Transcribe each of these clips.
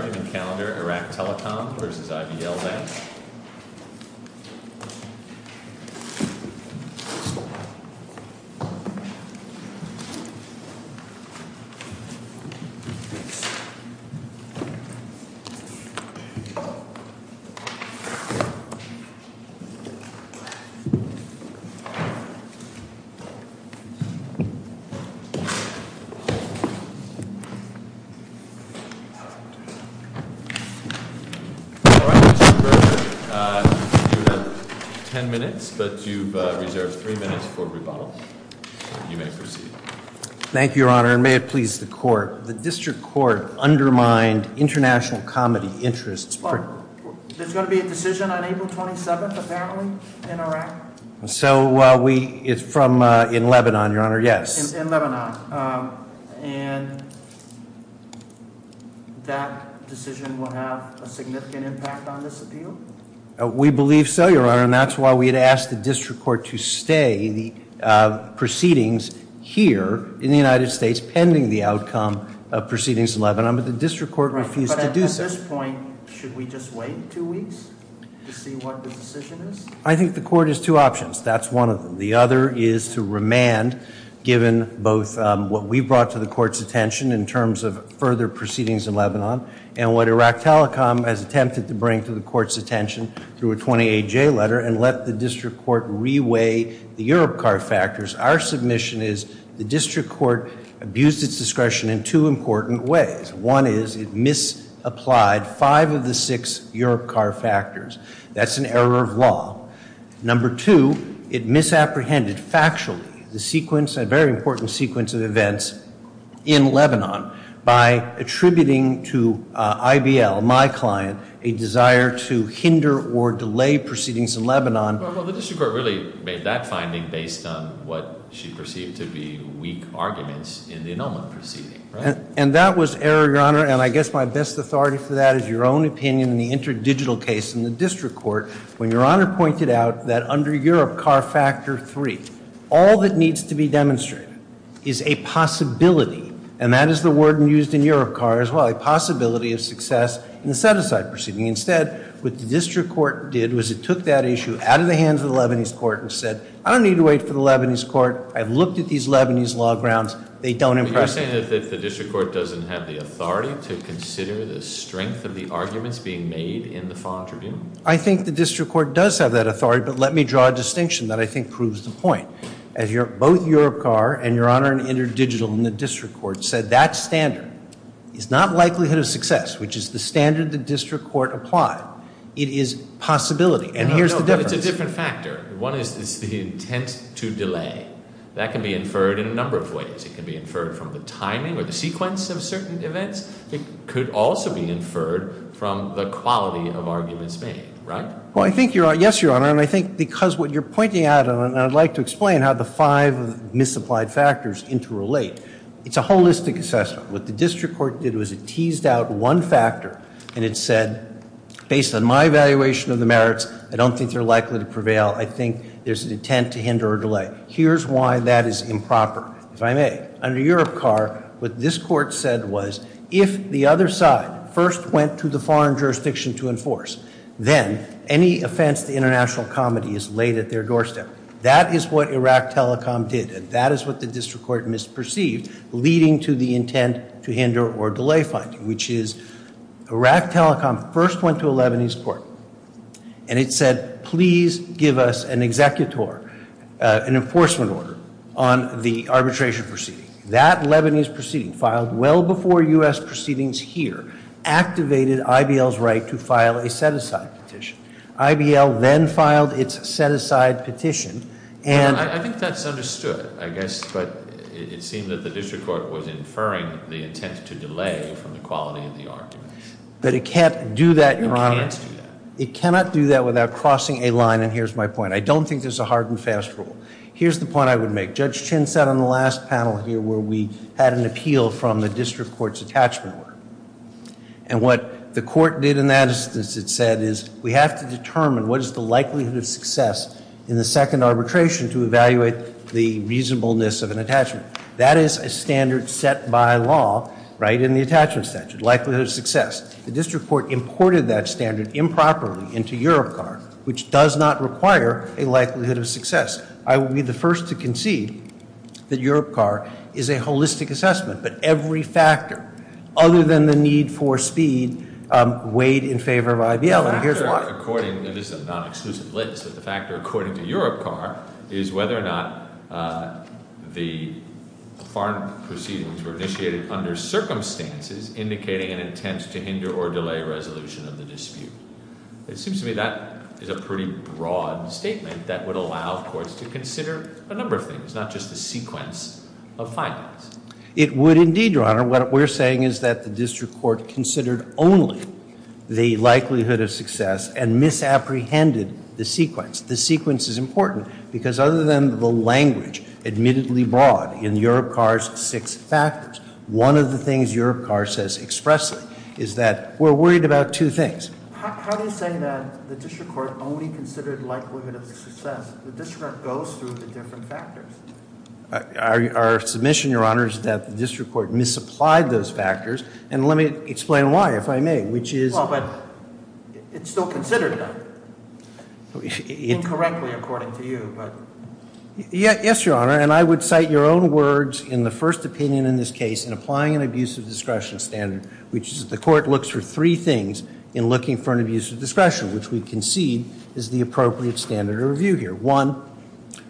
argument calendar, Iraq Telecom versus IBL Bank. All right, Mr. Berger, you have ten minutes, but you've reserved three minutes for rebuttal. You may proceed. Thank you, Your Honor, and may it please the Court, the District Court undermined international comedy interests. There's going to be a decision on April 27th, apparently, in Iraq? So, we, it's from, in Lebanon, Your Honor, yes. In Lebanon, and that decision will have a significant impact on this appeal? We believe so, Your Honor, and that's why we had asked the District Court to stay the proceedings here in the United States pending the outcome of proceedings in Lebanon, but the District Court refused to do so. Right, but at this point, should we just wait two weeks to see what the decision is? I think the Court has two options. That's one of them. The other is to remand, given both what we brought to the Court's attention in terms of further proceedings in Lebanon, and what Iraq Telecom has attempted to bring to the Court's attention through a 28-J letter, and let the District Court re-weigh the Europcar factors. Our submission is the District Court abused its discretion in two important ways. One is it misapplied five of the six Europcar factors. That's an error of law. Number two, it misapprehended factually the sequence, a very important sequence of events in Lebanon, by attributing to IBL, my client, a desire to hinder or delay proceedings in Lebanon. Well, the District Court really made that finding based on what she perceived to be weak arguments in the Enoma proceeding, right? And that was error, Your Honor, and I guess my best authority for that is your own opinion in the interdigital case in the District Court, when Your Honor pointed out that under Europcar factor three, all that needs to be demonstrated is a possibility, and that is the word used in Europcar as well, a possibility of success in the set-aside proceeding. Instead, what the District Court did was it took that issue out of the hands of the Lebanese Court and said, I don't need to wait for the Lebanese Court. I've looked at these Lebanese law grounds. They don't impress me. So you're saying that the District Court doesn't have the authority to consider the strength of the arguments being made in the Fond Tribune? I think the District Court does have that authority, but let me draw a distinction that I think proves the point. As both Europcar and, Your Honor, interdigital in the District Court said, that standard is not likelihood of success, which is the standard the District Court applied. It is possibility, and here's the difference. No, no, no, but it's a different factor. One is the intent to delay. That can be inferred in a number of ways. It can be inferred from the timing or the sequence of certain events. It could also be inferred from the quality of arguments made, right? Well, I think, yes, Your Honor, and I think because what you're pointing out, and I'd like to explain how the five misapplied factors interrelate, it's a holistic assessment. What the District Court did was it teased out one factor, and it said, based on my evaluation of the merits, I don't think they're likely to prevail. I think there's an intent to hinder or delay. Here's why that is improper, if I may. Under Europcar, what this Court said was if the other side first went to the foreign jurisdiction to enforce, then any offense to international comity is laid at their doorstep. That is what Iraqtelecom did, and that is what the District Court misperceived, leading to the intent to hinder or delay finding, which is Iraqtelecom first went to a Lebanese court, and it said, please give us an executor, an enforcement order on the arbitration proceeding. That Lebanese proceeding, filed well before U.S. proceedings here, activated IBL's right to file a set-aside petition. IBL then filed its set-aside petition, and... I think that's understood, I guess, but it seemed that the District Court was inferring the intent to delay from the quality of the argument. But it can't do that, Your Honor. It cannot do that. It cannot do that without crossing a line, and here's my point. I don't think there's a hard and fast rule. Here's the point I would make. Judge Chin sat on the last panel here where we had an appeal from the District Court's attachment order, and what the Court did in that instance, it said, is we have to determine what is the likelihood of success in the second arbitration to evaluate the reasonableness of an attachment. That is a standard set by law, right, in the attachment statute, likelihood of success. The District Court imported that standard improperly into Europcar, which does not require a likelihood of success. I will be the first to concede that Europcar is a holistic assessment, but every factor other than the need for speed weighed in favor of IBL, and here's why. The factor according, and this is a non-exclusive list, but the factor according to Europcar is whether or not the foreign proceedings were initiated under circumstances indicating an intent to hinder or delay resolution of the dispute. It seems to me that is a pretty broad statement that would allow courts to consider a number of things, not just the sequence of findings. It would indeed, Your Honor. What we're saying is that the District Court considered only the likelihood of success and misapprehended the sequence. The sequence is important because other than the language, admittedly broad, in Europcar's six factors, one of the things Europcar says expressly is that we're worried about two things. How do you say that the District Court only considered likelihood of success? The District Court goes through the different factors. Our submission, Your Honor, is that the District Court misapplied those factors, and let me explain why, if I may, which is- Well, but it's still considered, though. Incorrectly, according to you, but- Yes, Your Honor, and I would cite your own words in the first opinion in this case in applying an abuse of discretion standard, which is the court looks for three things in looking for an abuse of discretion, which we concede is the appropriate standard of review here. One,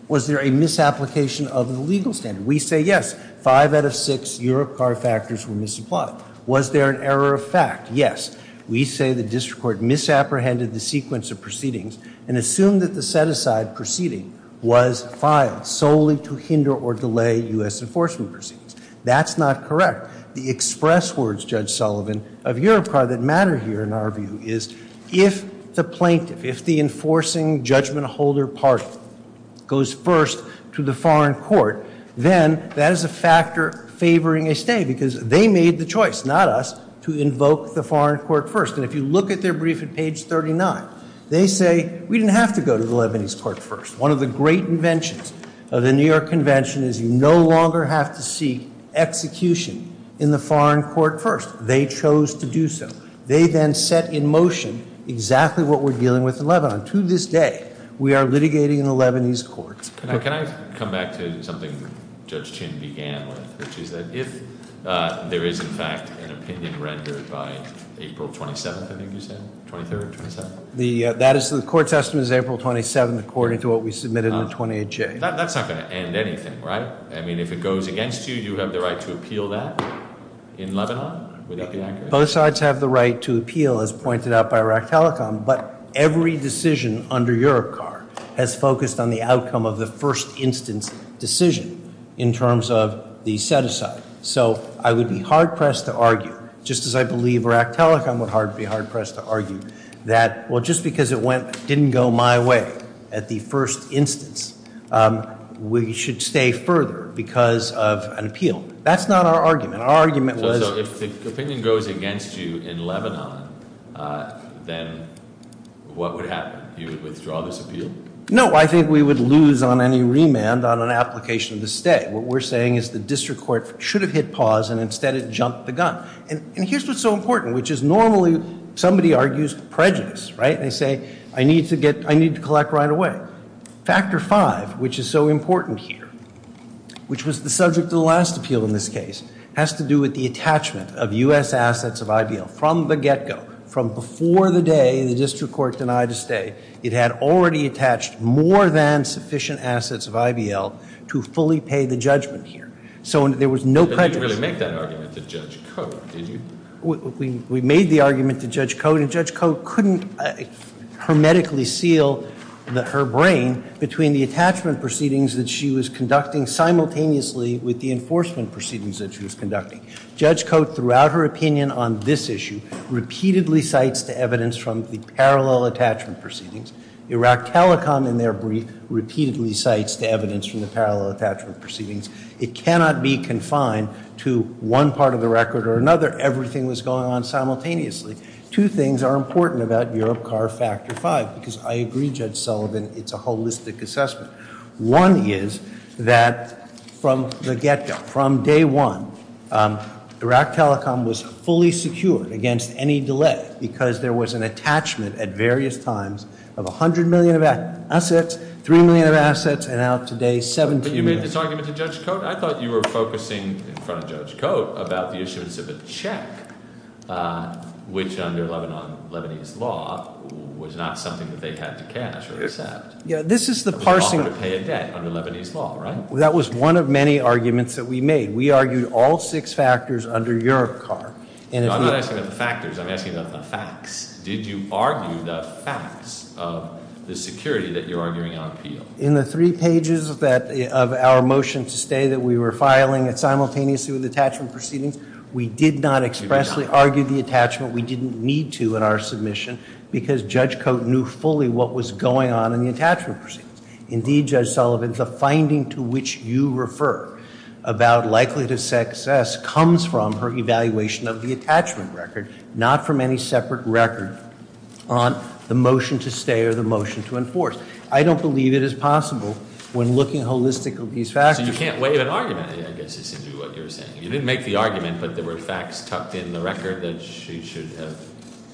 was there a misapplication of the legal standard? We say yes. Five out of six Europcar factors were misapplied. Was there an error of fact? Yes. We say the District Court misapprehended the sequence of proceedings and assumed that the set-aside proceeding was filed solely to hinder or delay U.S. enforcement proceedings. That's not correct. The express words, Judge Sullivan, of Europcar that matter here, in our view, is if the plaintiff, if the enforcing judgment holder party goes first to the foreign court, then that is a factor favoring a stay because they made the choice, not us, to invoke the foreign court first. And if you look at their brief at page 39, they say we didn't have to go to the Lebanese court first. One of the great inventions of the New York Convention is you no longer have to seek execution in the foreign court first. They chose to do so. They then set in motion exactly what we're dealing with in Lebanon. To this day, we are litigating in the Lebanese courts. Can I come back to something Judge Chin began with, which is that if there is, in fact, an opinion rendered by April 27th, I think you said, 23rd, 27th? The court's estimate is April 27th, according to what we submitted in the 28th. That's not going to end anything, right? I mean, if it goes against you, you have the right to appeal that in Lebanon? Would that be accurate? Both sides have the right to appeal, as pointed out by Rakhtalikon, but every decision under your car has focused on the outcome of the first instance decision in terms of the set-aside. So I would be hard-pressed to argue, just as I believe Rakhtalikon would be hard-pressed to argue, that, well, just because it didn't go my way at the first instance, we should stay further because of an appeal. That's not our argument. So if the opinion goes against you in Lebanon, then what would happen? You would withdraw this appeal? No, I think we would lose on any remand on an application to stay. What we're saying is the district court should have hit pause, and instead it jumped the gun. And here's what's so important, which is normally somebody argues prejudice, right? They say, I need to collect right away. Factor five, which is so important here, which was the subject of the last appeal in this case, has to do with the attachment of U.S. assets of IBL. From the get-go, from before the day the district court denied a stay, it had already attached more than sufficient assets of IBL to fully pay the judgment here. So there was no prejudice. But you didn't really make that argument to Judge Cote, did you? We made the argument to Judge Cote. And Judge Cote couldn't hermetically seal her brain between the attachment proceedings that she was conducting simultaneously with the enforcement proceedings that she was conducting. Judge Cote, throughout her opinion on this issue, repeatedly cites the evidence from the parallel attachment proceedings. Iraq Telecom, in their brief, repeatedly cites the evidence from the parallel attachment proceedings. It cannot be confined to one part of the record or another. Everything was going on simultaneously. Two things are important about Europe Car Factor 5, because I agree, Judge Sullivan, it's a holistic assessment. One is that from the get-go, from day one, Iraq Telecom was fully secured against any delay because there was an attachment at various times of 100 million of assets, 3 million of assets, and now today 17 million. You made this argument to Judge Cote? I thought you were focusing in front of Judge Cote about the issuance of a check, which under Lebanese law was not something that they had to cash or accept. Yeah, this is the parsing. But you offered to pay a debt under Lebanese law, right? That was one of many arguments that we made. We argued all six factors under Europe Car. No, I'm not asking about the factors. I'm asking about the facts. Did you argue the facts of the security that you're arguing on appeal? In the three pages of our motion to stay that we were filing simultaneously with the attachment proceedings, we did not expressly argue the attachment. We didn't need to in our submission because Judge Cote knew fully what was going on in the attachment proceedings. Indeed, Judge Sullivan, the finding to which you refer about likelihood of success comes from her evaluation of the attachment record, not from any separate record on the motion to stay or the motion to enforce. I don't believe it is possible when looking holistically at these factors. So you can't waive an argument, I guess is what you're saying. You didn't make the argument, but there were facts tucked in the record that she should have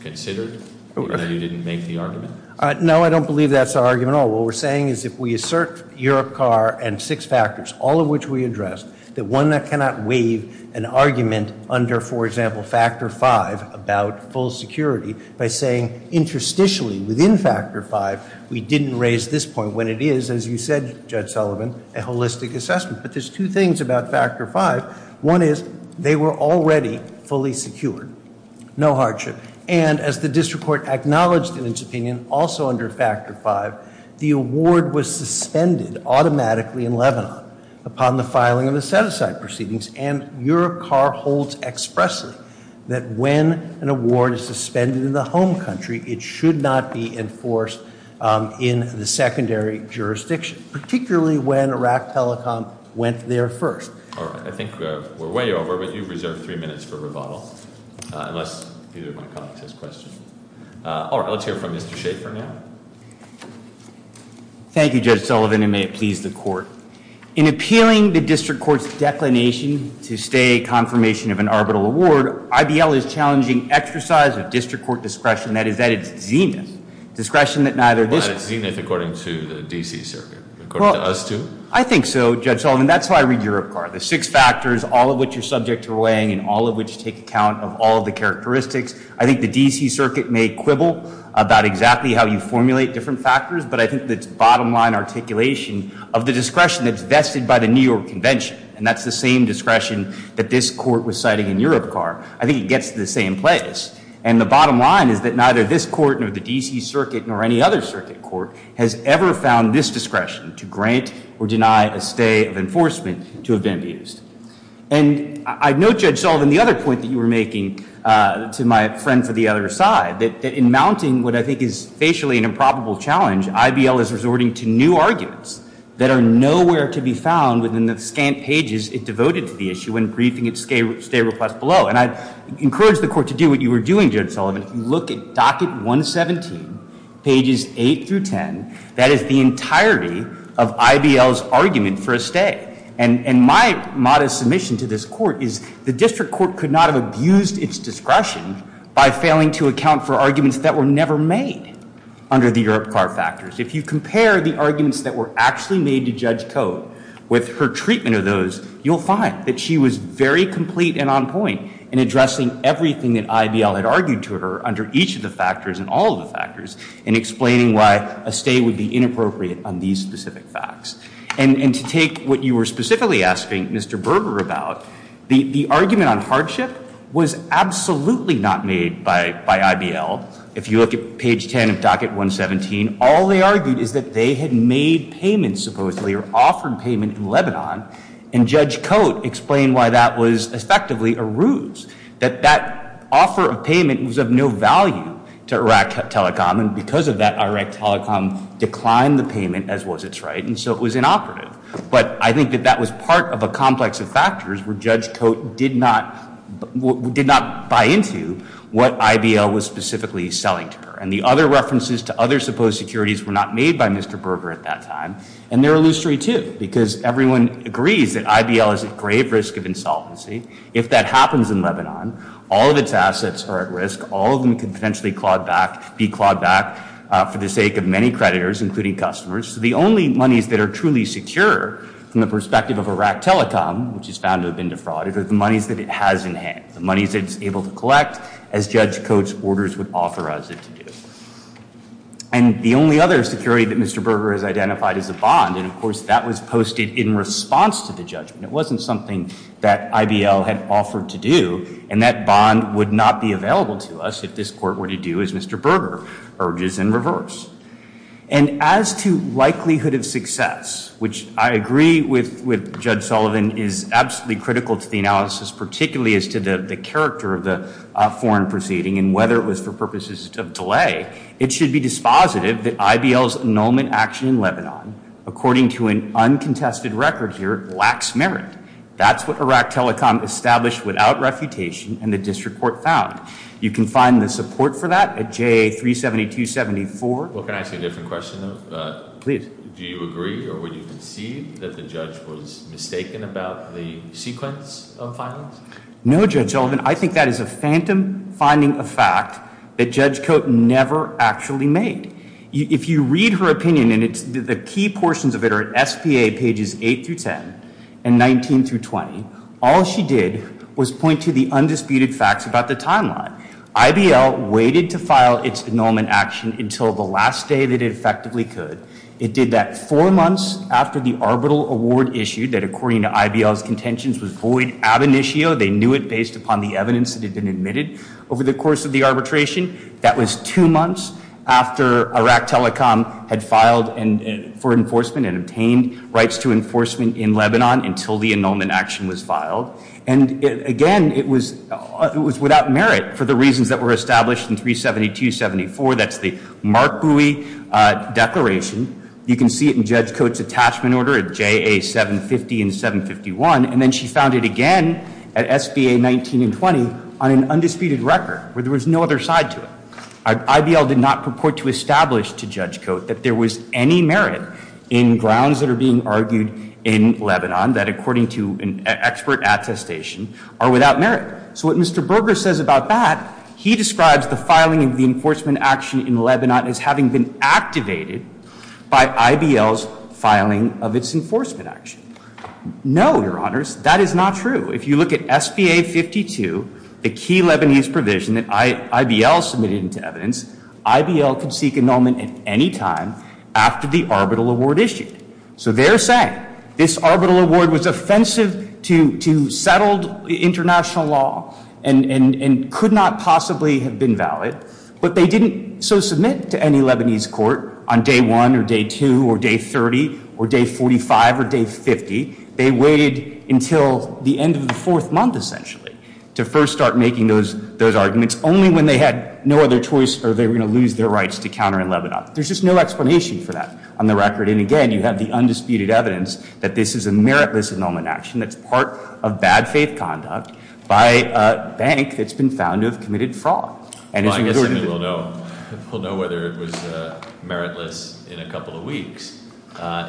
considered? You didn't make the argument? No, I don't believe that's our argument at all. What we're saying is if we assert Europe Car and six factors, all of which we addressed, that one cannot waive an argument under, for example, factor five about full security by saying interstitially within factor five, we didn't raise this point when it is, as you said, Judge Sullivan, a holistic assessment. But there's two things about factor five. One is they were already fully secured, no hardship. And as the district court acknowledged in its opinion, also under factor five, the award was suspended automatically in Lebanon upon the filing of the set-aside proceedings. And Europe Car holds expressly that when an award is suspended in the home country, it should not be enforced in the secondary jurisdiction, particularly when Iraq Telecom went there first. All right. I think we're way over, but you've reserved three minutes for rebuttal, unless either of my colleagues has questions. All right. Let's hear from Mr. Schafer now. Thank you, Judge Sullivan, and may it please the court. In appealing the district court's declination to stay confirmation of an arbitral award, IBL is challenging exercise of district court discretion, that is, that it's zenith, discretion that neither this court But it's zenith according to the D.C. Circuit, according to us two? I think so, Judge Sullivan. That's how I read Europe Car, the six factors, all of which are subject to weighing and all of which take account of all the characteristics. I think the D.C. Circuit may quibble about exactly how you formulate different factors, but I think the bottom line articulation of the discretion that's vested by the New York Convention, and that's the same discretion that this court was citing in Europe Car, I think it gets to the same place. And the bottom line is that neither this court nor the D.C. Circuit nor any other circuit court has ever found this discretion to grant or deny a stay of enforcement to have been abused. And I note, Judge Sullivan, the other point that you were making to my friend for the other side, that in mounting what I think is facially an improbable challenge, IBL is resorting to new arguments that are nowhere to be found within the scant pages it devoted to the issue when briefing its stay request below. And I encourage the court to do what you were doing, Judge Sullivan. Look at docket 117, pages 8 through 10. That is the entirety of IBL's argument for a stay. And my modest submission to this court is the district court could not have abused its discretion by failing to account for arguments that were never made under the Europe Car factors. If you compare the arguments that were actually made to Judge Code with her treatment of those, you'll find that she was very complete and on point in addressing everything that IBL had argued to her under each of the factors and all of the factors in explaining why a stay would be inappropriate on these specific facts. And to take what you were specifically asking Mr. Berger about, the argument on hardship was absolutely not made by IBL. If you look at page 10 of docket 117, all they argued is that they had made payments supposedly or offered payment in Lebanon, and Judge Code explained why that was effectively a ruse, that that offer of payment was of no value to Iraq Telecom. And because of that, Iraq Telecom declined the payment as was its right. And so it was inoperative. But I think that that was part of a complex of factors where Judge Code did not buy into what IBL was specifically selling to her. And the other references to other supposed securities were not made by Mr. Berger at that time. And they're illustrious, too, because everyone agrees that IBL is at grave risk of insolvency. If that happens in Lebanon, all of its assets are at risk. All of them could potentially be clawed back for the sake of many creditors, including customers. So the only monies that are truly secure from the perspective of Iraq Telecom, which is found to have been defrauded, are the monies that it has in hand, the monies that it's able to collect as Judge Code's orders would offer us it to do. And the only other security that Mr. Berger has identified is a bond. And, of course, that was posted in response to the judgment. It wasn't something that IBL had offered to do. And that bond would not be available to us if this Court were to do as Mr. Berger urges in reverse. And as to likelihood of success, which I agree with Judge Sullivan, is absolutely critical to the analysis, particularly as to the character of the foreign proceeding and whether it was for purposes of delay, it should be dispositive that IBL's annulment action in Lebanon, according to an uncontested record here, lacks merit. That's what Iraq Telecom established without refutation and the district court found. You can find the support for that at JA 37274. Well, can I ask you a different question, though? Please. Do you agree or would you concede that the judge was mistaken about the sequence of findings? No, Judge Sullivan. I think that is a phantom finding of fact that Judge Code never actually made. If you read her opinion, and the key portions of it are at SPA pages 8 through 10 and 19 through 20, all she did was point to the undisputed facts about the timeline. IBL waited to file its annulment action until the last day that it effectively could. It did that four months after the arbitral award issued that, according to IBL's contentions, was void ab initio. They knew it based upon the evidence that had been admitted over the course of the arbitration. That was two months after Iraq Telecom had filed for enforcement and obtained rights to enforcement in Lebanon until the annulment action was filed. And, again, it was without merit for the reasons that were established in 37274. That's the Mark Bowie declaration. You can see it in Judge Code's attachment order at JA 750 and 751. And then she found it again at SBA 19 and 20 on an undisputed record where there was no other side to it. IBL did not purport to establish to Judge Code that there was any merit in grounds that are being argued in Lebanon that, according to an expert attestation, are without merit. So what Mr. Berger says about that, he describes the filing of the enforcement action in Lebanon as having been activated by IBL's filing of its enforcement action. No, Your Honors, that is not true. If you look at SBA 52, the key Lebanese provision that IBL submitted into evidence, IBL could seek annulment at any time after the arbitral award issued. So they're saying this arbitral award was offensive to settled international law and could not possibly have been valid. But they didn't so submit to any Lebanese court on day one or day two or day 30 or day 45 or day 50. They waited until the end of the fourth month, essentially, to first start making those arguments, only when they had no other choice or they were going to lose their rights to counter in Lebanon. There's just no explanation for that on the record. And again, you have the undisputed evidence that this is a meritless annulment action that's part of bad faith conduct by a bank that's been found to have committed fraud. I guess we'll know whether it was meritless in a couple of weeks.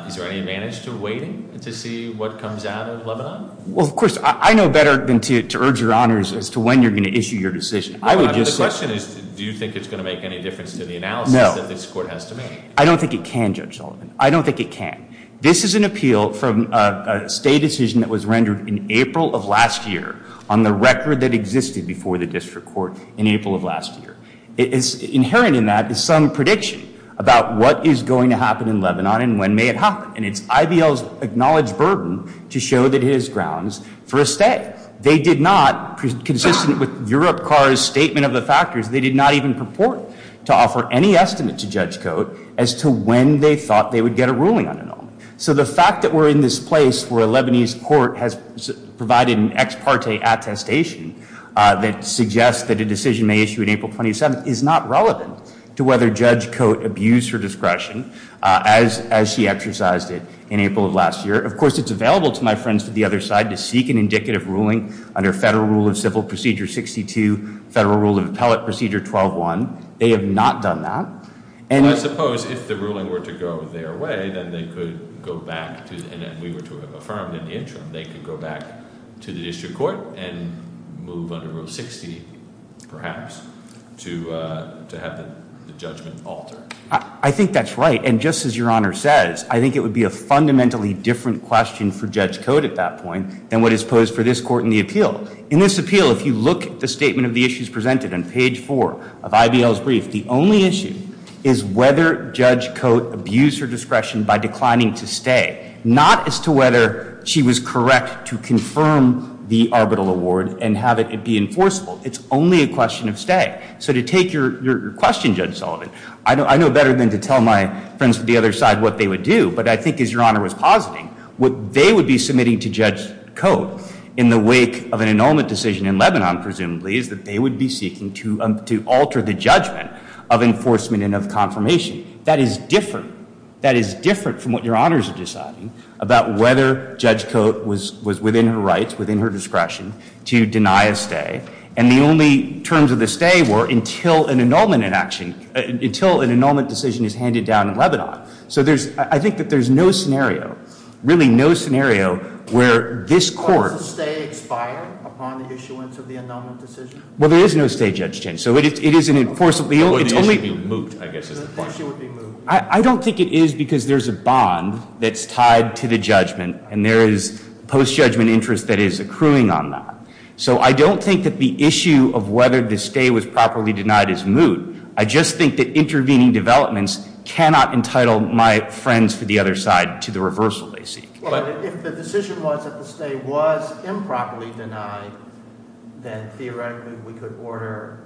Is there any advantage to waiting to see what comes out of Lebanon? Well, of course, I know better than to urge your honors as to when you're going to issue your decision. The question is, do you think it's going to make any difference to the analysis that this court has to make? I don't think it can, Judge Sullivan. I don't think it can. This is an appeal from a state decision that was rendered in April of last year on the record that existed before the district court in April of last year. Inherent in that is some prediction about what is going to happen in Lebanon and when may it happen. And it's IBL's acknowledged burden to show that it is grounds for a stay. They did not, consistent with Europcar's statement of the factors, they did not even purport to offer any estimate to Judge Cote as to when they thought they would get a ruling on annulment. So the fact that we're in this place where a Lebanese court has provided an ex parte attestation that suggests that a decision may issue in April 27th is not relevant to whether Judge Cote abused her discretion as she exercised it in April of last year. Of course, it's available to my friends to the other side to seek an indicative ruling under Federal Rule of Civil Procedure 62, Federal Rule of Appellate Procedure 12-1. They have not done that. I suppose if the ruling were to go their way, then they could go back to, and we were to have affirmed in the interim, they could go back to the district court and move under Rule 60, perhaps, to have the judgment altered. I think that's right, and just as Your Honor says, I think it would be a fundamentally different question for Judge Cote at that point than what is posed for this Court in the appeal. In this appeal, if you look at the statement of the issues presented on page 4 of IBL's brief, the only issue is whether Judge Cote abused her discretion by declining to stay, not as to whether she was correct to confirm the arbitral award and have it be enforceable. It's only a question of stay. So to take your question, Judge Sullivan, I know better than to tell my friends to the other side what they would do, but I think as Your Honor was positing, what they would be submitting to Judge Cote in the wake of an annulment decision in Lebanon, presumably, is that they would be seeking to alter the judgment of enforcement and of confirmation. That is different. That is different from what Your Honors are deciding about whether Judge Cote was within her rights, within her discretion, to deny a stay. And the only terms of the stay were until an annulment in action, until an annulment decision is handed down in Lebanon. So I think that there's no scenario, really no scenario, where this Court— Does the stay expire upon the issuance of the annulment decision? Well, there is no stay, Judge Chin. So it is an enforceable— Well, the issue would be moot, I guess is the point. The issue would be moot. I don't think it is because there's a bond that's tied to the judgment and there is post-judgment interest that is accruing on that. So I don't think that the issue of whether the stay was properly denied is moot. I just think that intervening developments cannot entitle my friends to the other side to the reversal they seek. If the decision was that the stay was improperly denied, then theoretically we could order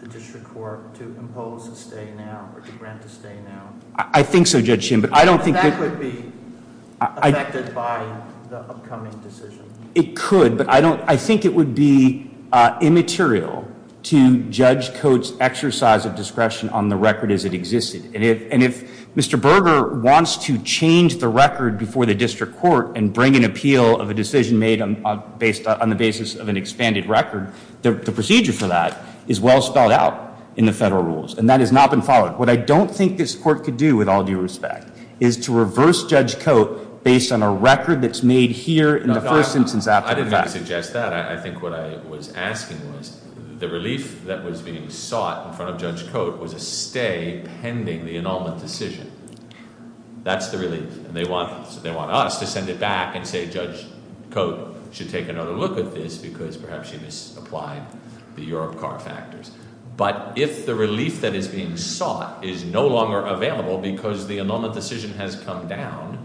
the District Court to impose a stay now or to grant a stay now. I think so, Judge Chin, but I don't think that— That would be affected by the upcoming decision. It could, but I think it would be immaterial to Judge Coates' exercise of discretion on the record as it existed. And if Mr. Berger wants to change the record before the District Court and bring an appeal of a decision made on the basis of an expanded record, the procedure for that is well spelled out in the federal rules, and that has not been followed. What I don't think this Court could do, with all due respect, is to reverse Judge Coates based on a record that's made here in the first instance after the fact. I didn't mean to suggest that. I think what I was asking was the relief that was being sought in front of Judge Coates was a stay pending the annulment decision. That's the relief. And they want us to send it back and say Judge Coates should take another look at this because perhaps she misapplied the Europe card factors. But if the relief that is being sought is no longer available because the annulment decision has come down,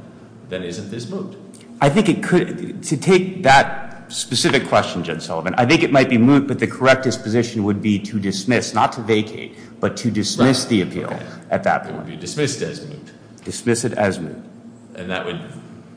then isn't this moot? I think it could—to take that specific question, Judge Sullivan, I think it might be moot, but the correct disposition would be to dismiss, not to vacate, but to dismiss the appeal at that point. It would be dismissed as moot. Dismiss it as moot. And that would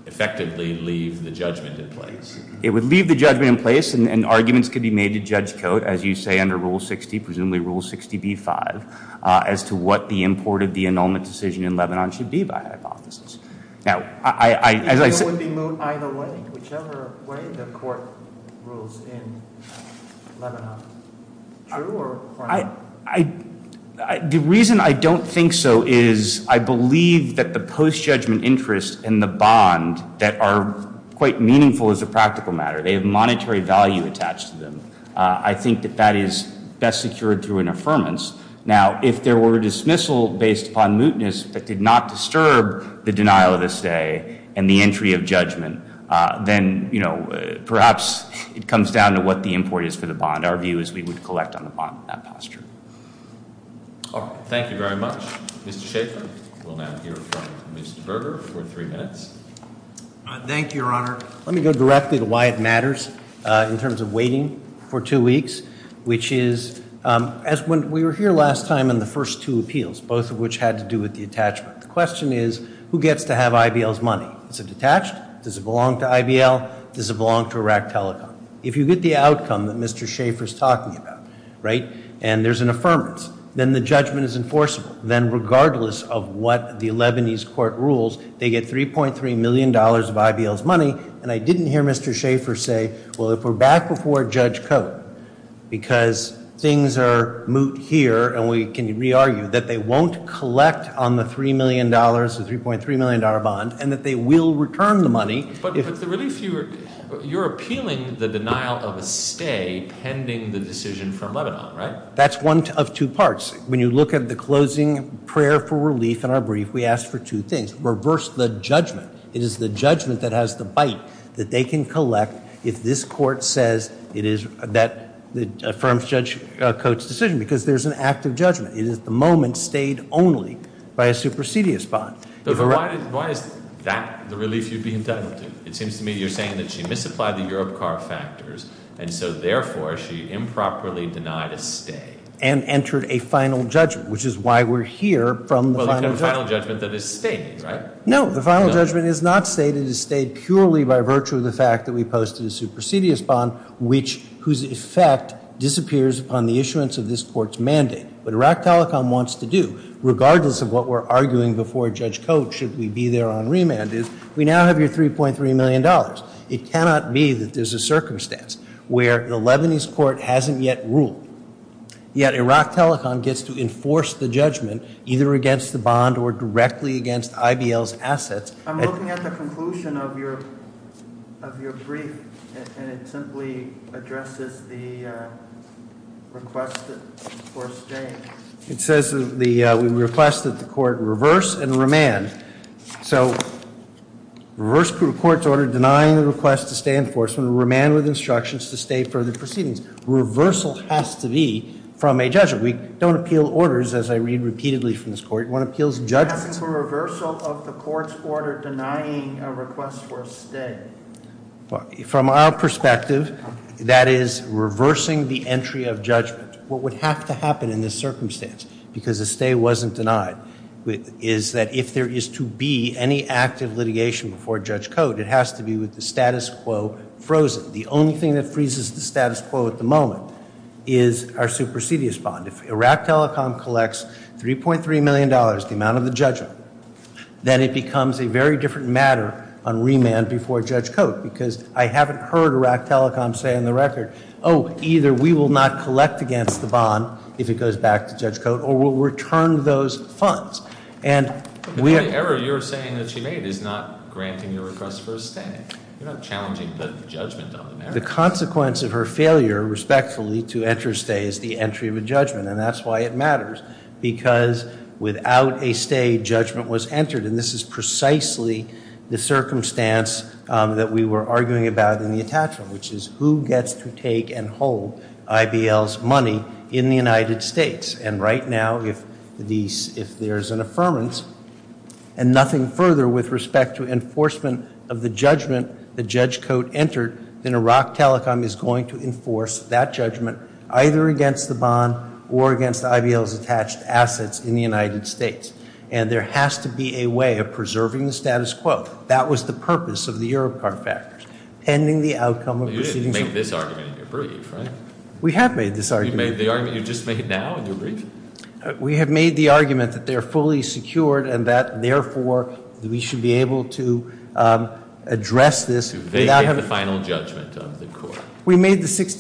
effectively leave the judgment in place. It would leave the judgment in place, and arguments could be made to Judge Coates, as you say under Rule 60, presumably Rule 60b-5, as to what the import of the annulment decision in Lebanon should be by hypothesis. Now, I— Do you think it would be moot either way, whichever way the Court rules in Lebanon? True or false? The reason I don't think so is I believe that the post-judgment interest and the bond that are quite meaningful as a practical matter, they have monetary value attached to them. I think that that is best secured through an affirmance. Now, if there were a dismissal based upon mootness that did not disturb the denial of this day and the entry of judgment, then, you know, perhaps it comes down to what the import is for the bond. And our view is we would collect on the bond in that posture. All right. Thank you very much. Mr. Schaffer, we'll now hear from Mr. Berger for three minutes. Thank you, Your Honor. Let me go directly to why it matters in terms of waiting for two weeks, which is as when we were here last time in the first two appeals, both of which had to do with the attachment. The question is who gets to have IBL's money? Is it attached? Does it belong to IBL? Does it belong to Iraq Telecom? If you get the outcome that Mr. Schaffer is talking about, right, and there's an affirmance, then the judgment is enforceable. Then regardless of what the Lebanese court rules, they get $3.3 million of IBL's money. And I didn't hear Mr. Schaffer say, well, if we're back before Judge Cote, because things are moot here and we can re-argue, that they won't collect on the $3 million, the $3.3 million bond, and that they will return the money. But the relief, you're appealing the denial of a stay pending the decision from Lebanon, right? That's one of two parts. When you look at the closing prayer for relief in our brief, we asked for two things. Reverse the judgment. It is the judgment that has the bite that they can collect if this court says that affirms Judge Cote's decision because there's an act of judgment. It is the moment stayed only by a supersedious bond. But why is that the relief you'd be entitled to? It seems to me you're saying that she misapplied the Europcar factors, and so therefore she improperly denied a stay. And entered a final judgment, which is why we're here from the final judgment. Well, the final judgment that is stayed, right? No, the final judgment is not stayed. It is stayed purely by virtue of the fact that we posted a supersedious bond, whose effect disappears upon the issuance of this court's mandate. What Iraq Telecom wants to do, regardless of what we're arguing before Judge Cote, should we be there on remand, is we now have your $3.3 million. It cannot be that there's a circumstance where the Lebanese court hasn't yet ruled, yet Iraq Telecom gets to enforce the judgment either against the bond or directly against IBL's assets. I'm looking at the conclusion of your brief, and it simply addresses the request for a stay. It says we request that the court reverse and remand. So reverse the court's order denying the request to stay in enforcement, remand with instructions to stay for the proceedings. Reversal has to be from a judgment. We don't appeal orders, as I read repeatedly from this court. One appeals judgment. It's a reversal of the court's order denying a request for a stay. From our perspective, that is reversing the entry of judgment. What would have to happen in this circumstance, because a stay wasn't denied, is that if there is to be any active litigation before Judge Cote, it has to be with the status quo frozen. The only thing that freezes the status quo at the moment is our supersedious bond. If Iraq Telecom collects $3.3 million, the amount of the judgment, then it becomes a very different matter on remand before Judge Cote, because I haven't heard Iraq Telecom say on the record, oh, either we will not collect against the bond if it goes back to Judge Cote, or we'll return those funds. The only error you're saying that she made is not granting the request for a stay. You're not challenging the judgment on the matter. The consequence of her failure, respectfully, to enter stay is the entry of a judgment, and that's why it matters, because without a stay, judgment was entered, and this is precisely the circumstance that we were arguing about in the attachment, which is who gets to take and hold IBL's money in the United States. And right now, if there is an affirmance, and nothing further with respect to enforcement of the judgment that Judge Cote entered, then Iraq Telecom is going to enforce that judgment either against the bond or against IBL's attached assets in the United States, and there has to be a way of preserving the status quo. That was the purpose of the Europe card factors, pending the outcome of proceedings. You didn't make this argument in your brief, right? We have made this argument. You made the argument you just made now in your brief? We have made the argument that they are fully secured and that, therefore, we should be able to address this. They get the final judgment of the court.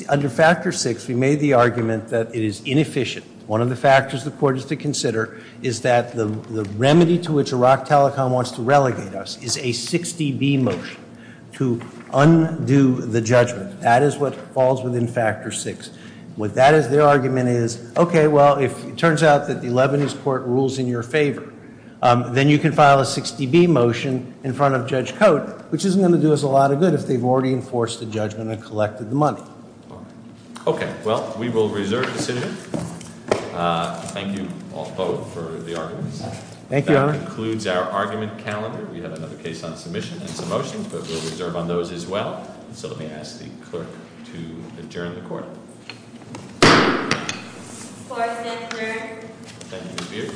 Under Factor VI, we made the argument that it is inefficient. One of the factors the court is to consider is that the remedy to which Iraq Telecom wants to relegate us is a 60-B motion to undo the judgment. That is what falls within Factor VI. Their argument is, okay, well, it turns out that the Lebanese court rules in your favor. Then you can file a 60-B motion in front of Judge Cote, which isn't going to do us a lot of good if they've already enforced the judgment and collected the money. Okay, well, we will reserve the sit-in. Thank you, both, for the arguments. That concludes our argument calendar. We have another case on submission and some motions, but we'll reserve on those as well. So let me ask the clerk to adjourn the court.